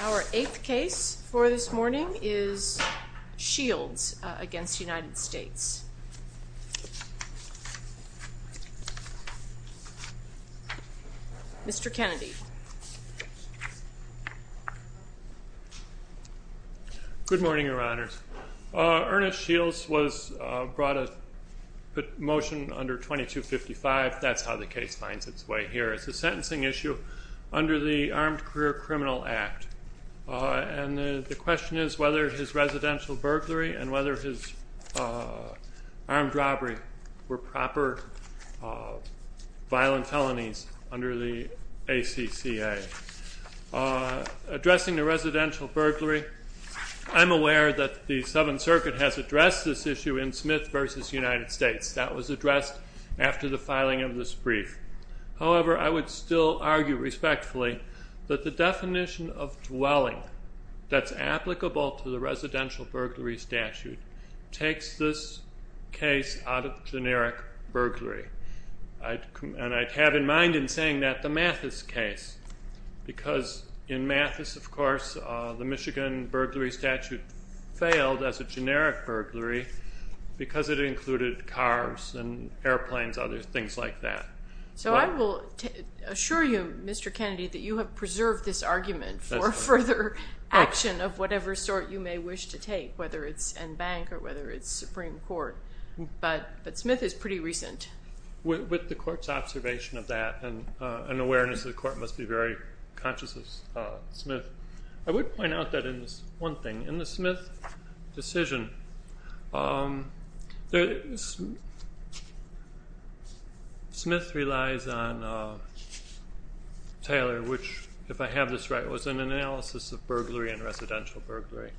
Our eighth case for this morning is Shields v. United States. Mr. Kennedy. Good morning, Your Honors. Ernest Shields was brought a motion under 2255. That's how the case finds its way here. It's a sentencing issue under the Armed Career Criminal Act. And the question is whether his residential burglary and whether his armed robbery were proper violent felonies under the ACCA. Addressing the residential burglary, I'm aware that the Seventh Circuit has addressed this issue in Smith v. United States. That was addressed after the filing of this brief. However, I would still argue respectfully that the definition of dwelling that's applicable to the residential burglary statute takes this case out of generic burglary. And I have in mind in saying that the Mathis case, because in Mathis, of course, the Michigan burglary statute failed as a generic burglary because it included cars and airplanes and other things like that. So I will assure you, Mr. Kennedy, that you have preserved this argument for further action of whatever sort you may wish to take, whether it's in bank or whether it's Supreme Court. But Smith is pretty recent. With the court's observation of that and an awareness that the court must be very conscious of Smith, I would point out that in this one thing, in the Smith decision, Smith relies on Taylor, which, if I have this right, was an analysis of burglary and residential burglary.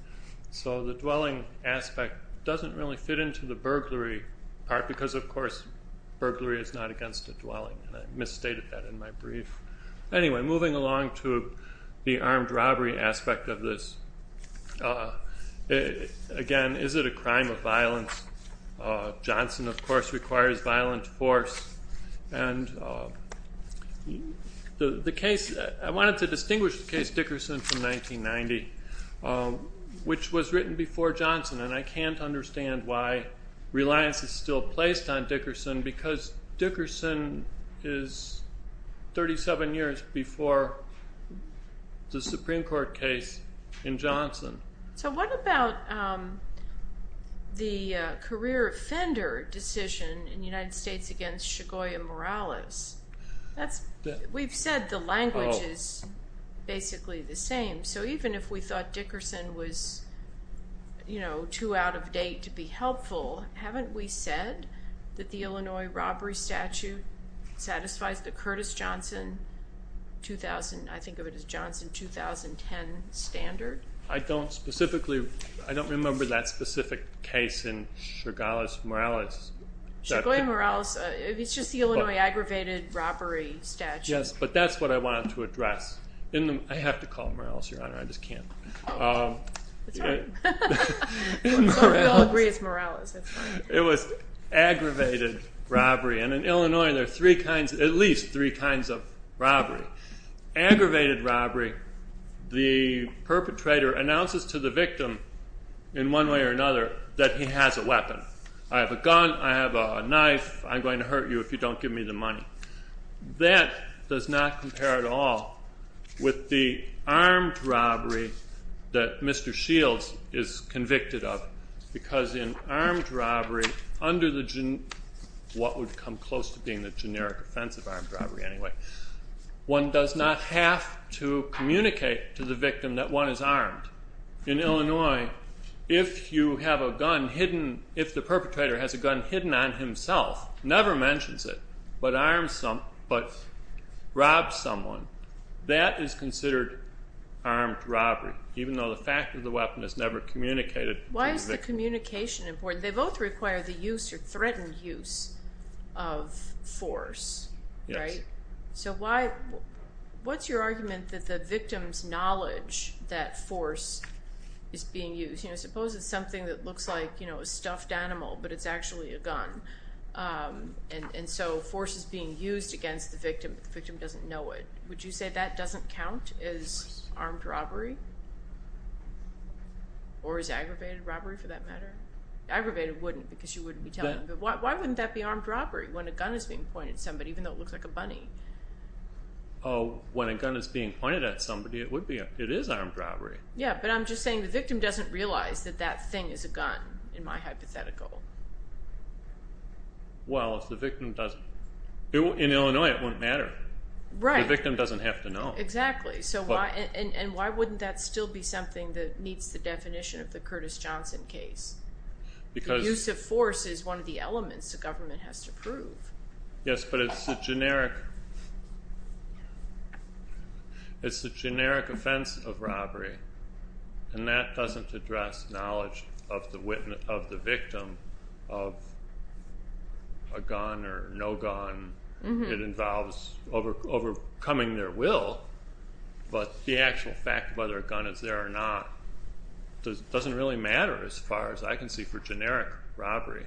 So the dwelling aspect doesn't really fit into the burglary part because, of course, burglary is not against a dwelling, and I misstated that in my brief. Anyway, moving along to the armed robbery aspect of this, again, is it a crime of violence? Johnson, of course, requires violent force. And the case, I wanted to distinguish the which was written before Johnson, and I can't understand why reliance is still placed on Dickerson because Dickerson is 37 years before the Supreme Court case in Johnson. So what about the career offender decision in the United States against Shigoya Morales? We've said the language is basically the same. So even if we thought Dickerson was too out of date to be helpful, haven't we said that the Illinois robbery statute satisfies the Curtis Johnson, I think of it as Johnson 2010 standard? I don't specifically, I don't remember that specific case in Shigoya Morales. Shigoya Morales, it's just the Illinois aggravated robbery statute. Yes, but that's what I wanted to address. I have to call him Morales, Your Honor, I just can't. It's all right. We all agree it's Morales. It was aggravated robbery, and in Illinois there are at least three kinds of robbery. Aggravated robbery, the perpetrator announces to the victim in one way or another that he has a weapon. I have a gun, I have a knife, I'm going to hurt you if you don't give me the money. That does not compare at all with the armed robbery that Mr. Shields is convicted of, because in armed robbery, under what would come close to being the generic offensive armed robbery anyway, one does not have to communicate to the victim that one is armed. In Illinois, if you have a gun hidden, if the perpetrator has a gun hidden on himself, never mentions it, but robs someone, that is considered armed robbery, even though the fact of the weapon is never communicated to the victim. Why is the communication important? They both require the use or threatened use of force, right? What's your argument that the victim's knowledge that force is being used? Suppose it's something that looks like a stuffed animal, but it's actually a gun, and so force is being used against the victim, but the victim doesn't know it. Would you say that doesn't count as armed robbery, or as aggravated robbery for that matter? Aggravated wouldn't, because you wouldn't be telling them. Why wouldn't that be armed robbery when a gun is being pointed at somebody, even though it looks like a bunny? When a gun is being pointed at somebody, it is armed robbery. Yeah, but I'm just saying the victim doesn't realize that that thing is a gun, in my hypothetical. Well, if the victim doesn't, in Illinois it wouldn't matter. Right. The victim doesn't have to know. Exactly, and why wouldn't that still be something that meets the definition of the Curtis Johnson case? The use of force is one of the elements the government has to prove. Yes, but it's a generic offense of robbery, and that doesn't address knowledge of the victim of a gun or no gun. It involves overcoming their will, but the actual fact of whether a gun is there or not doesn't really matter as far as I can see for generic robbery.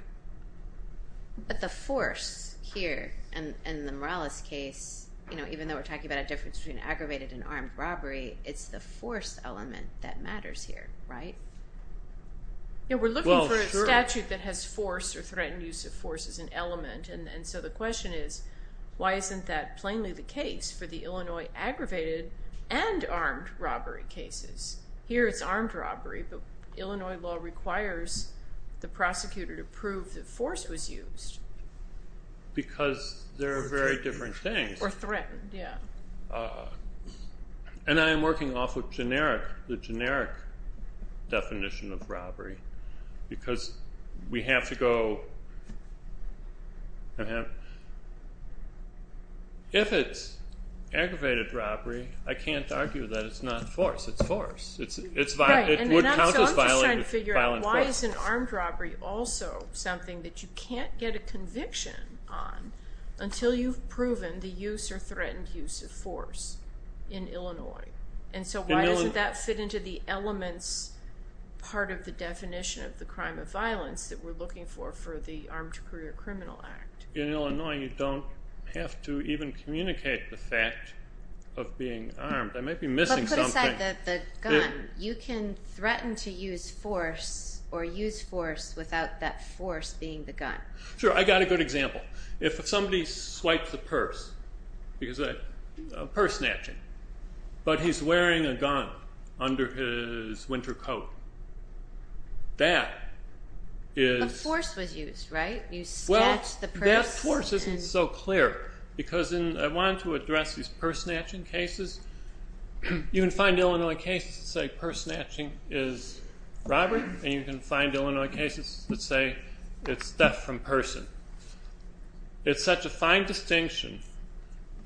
But the force here, in the Morales case, even though we're talking about a difference between aggravated and armed robbery, it's the force element that matters here, right? Yeah, we're looking for a statute that has force or threatened use of force as an element, and so the question is, why isn't that plainly the case for the Illinois aggravated and armed robbery cases? Here it's armed robbery, but Illinois law requires the prosecutor to prove that force was used. Because there are very different things. Or threatened, yeah. And I am working off of generic, the generic definition of robbery, because we have to go... If it's aggravated robbery, I can't argue that it's not force. It's force. It would count as violent force. So I'm just trying to figure out, why isn't armed robbery also something that you can't get a conviction on until you've proven the use or threatened use of force in Illinois? And so why doesn't that fit into the elements part of the definition of the crime of violence that we're looking for for the Armed Career Criminal Act? In Illinois, you don't have to even communicate the fact of being armed. I might be missing something. But put aside the gun. You can threaten to use force or use force without that force being the gun. Sure, I've got a good example. If somebody swipes a purse, a purse snatching, but he's wearing a gun under his winter coat, that is... But force was used, right? Well, that force isn't so clear, because I want to address these purse snatching cases. You can find Illinois cases that say purse snatching is robbery, and you can find Illinois cases that say it's theft from person. It's such a fine distinction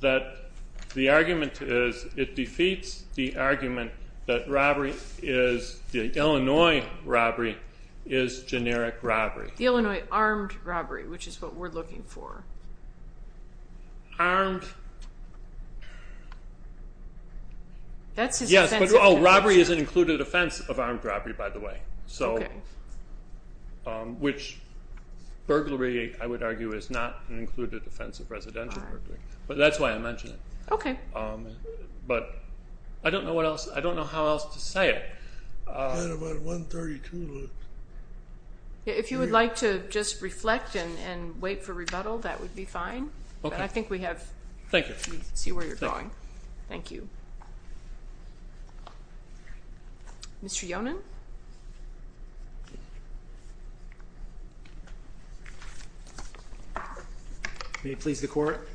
that the argument is it defeats the argument that robbery is... The Illinois robbery is generic robbery. The Illinois armed robbery, which is what we're looking for. Armed... Yes, but robbery is an included offense of armed robbery, by the way, which burglary, I would argue, is not an included offense of residential burglary. But that's why I mention it. But I don't know how else to say it. I've got about 132 left. If you would like to just reflect and wait for rebuttal, that would be fine. Okay. But I think we have... Thank you. We can see where you're going. Thank you. Mr. Yonan? May it please the Court?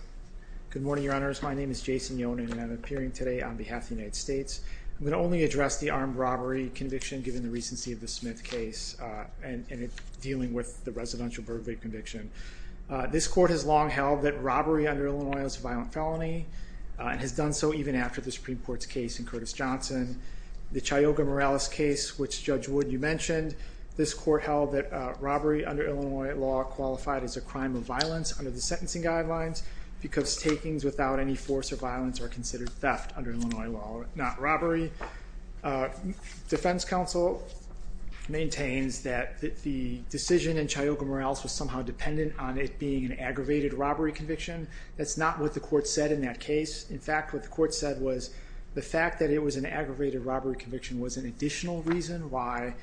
Good morning, Your Honors. My name is Jason Yonan, and I'm appearing today on behalf of the United States. I'm going to only address the armed robbery conviction given the recency of the Smith case and dealing with the residential burglary conviction. This Court has long held that robbery under Illinois is a violent felony and has done so even after the Supreme Court's case in Curtis-Johnson. The Chayoga-Morales case, which Judge Wood, you mentioned, this Court held that robbery under Illinois law qualified as a crime of violence or considered theft under Illinois law, not robbery. Defense counsel maintains that the decision in Chayoga-Morales was somehow dependent on it being an aggravated robbery conviction. That's not what the Court said in that case. In fact, what the Court said was the fact that it was an aggravated robbery conviction was an additional reason why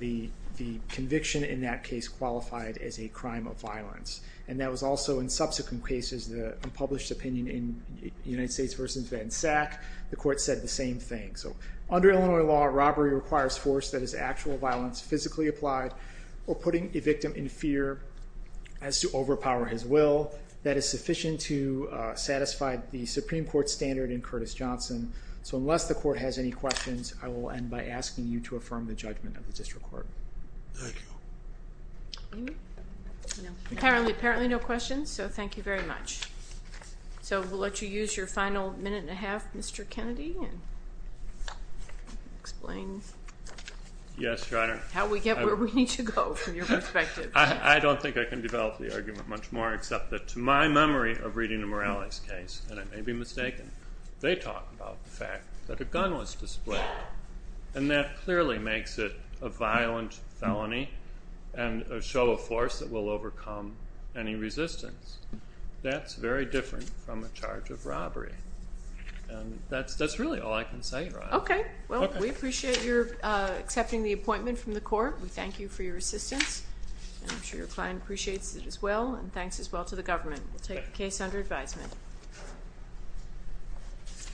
the conviction in that case qualified as a crime of violence. And that was also in subsequent cases, the unpublished opinion in United States v. Van Sack, the Court said the same thing. So under Illinois law, robbery requires force that is actual violence, physically applied, or putting a victim in fear as to overpower his will. That is sufficient to satisfy the Supreme Court standard in Curtis-Johnson. So unless the Court has any questions, I will end by asking you to affirm the judgment of the District Court. Thank you. Apparently no questions, so thank you very much. So we'll let you use your final minute and a half, Mr. Kennedy, and explain. Yes, Your Honor. How we get where we need to go from your perspective. I don't think I can develop the argument much more, except that to my memory of reading the Morales case, and I may be mistaken, they talk about the fact that a gun was displayed, and that clearly makes it a violent felony, and a show of force that will overcome any resistance. That's very different from a charge of robbery. That's really all I can say, Your Honor. Okay. Well, we appreciate your accepting the appointment from the Court. We thank you for your assistance. I'm sure your client appreciates it as well, and thanks as well to the government. We'll take the case under advisement.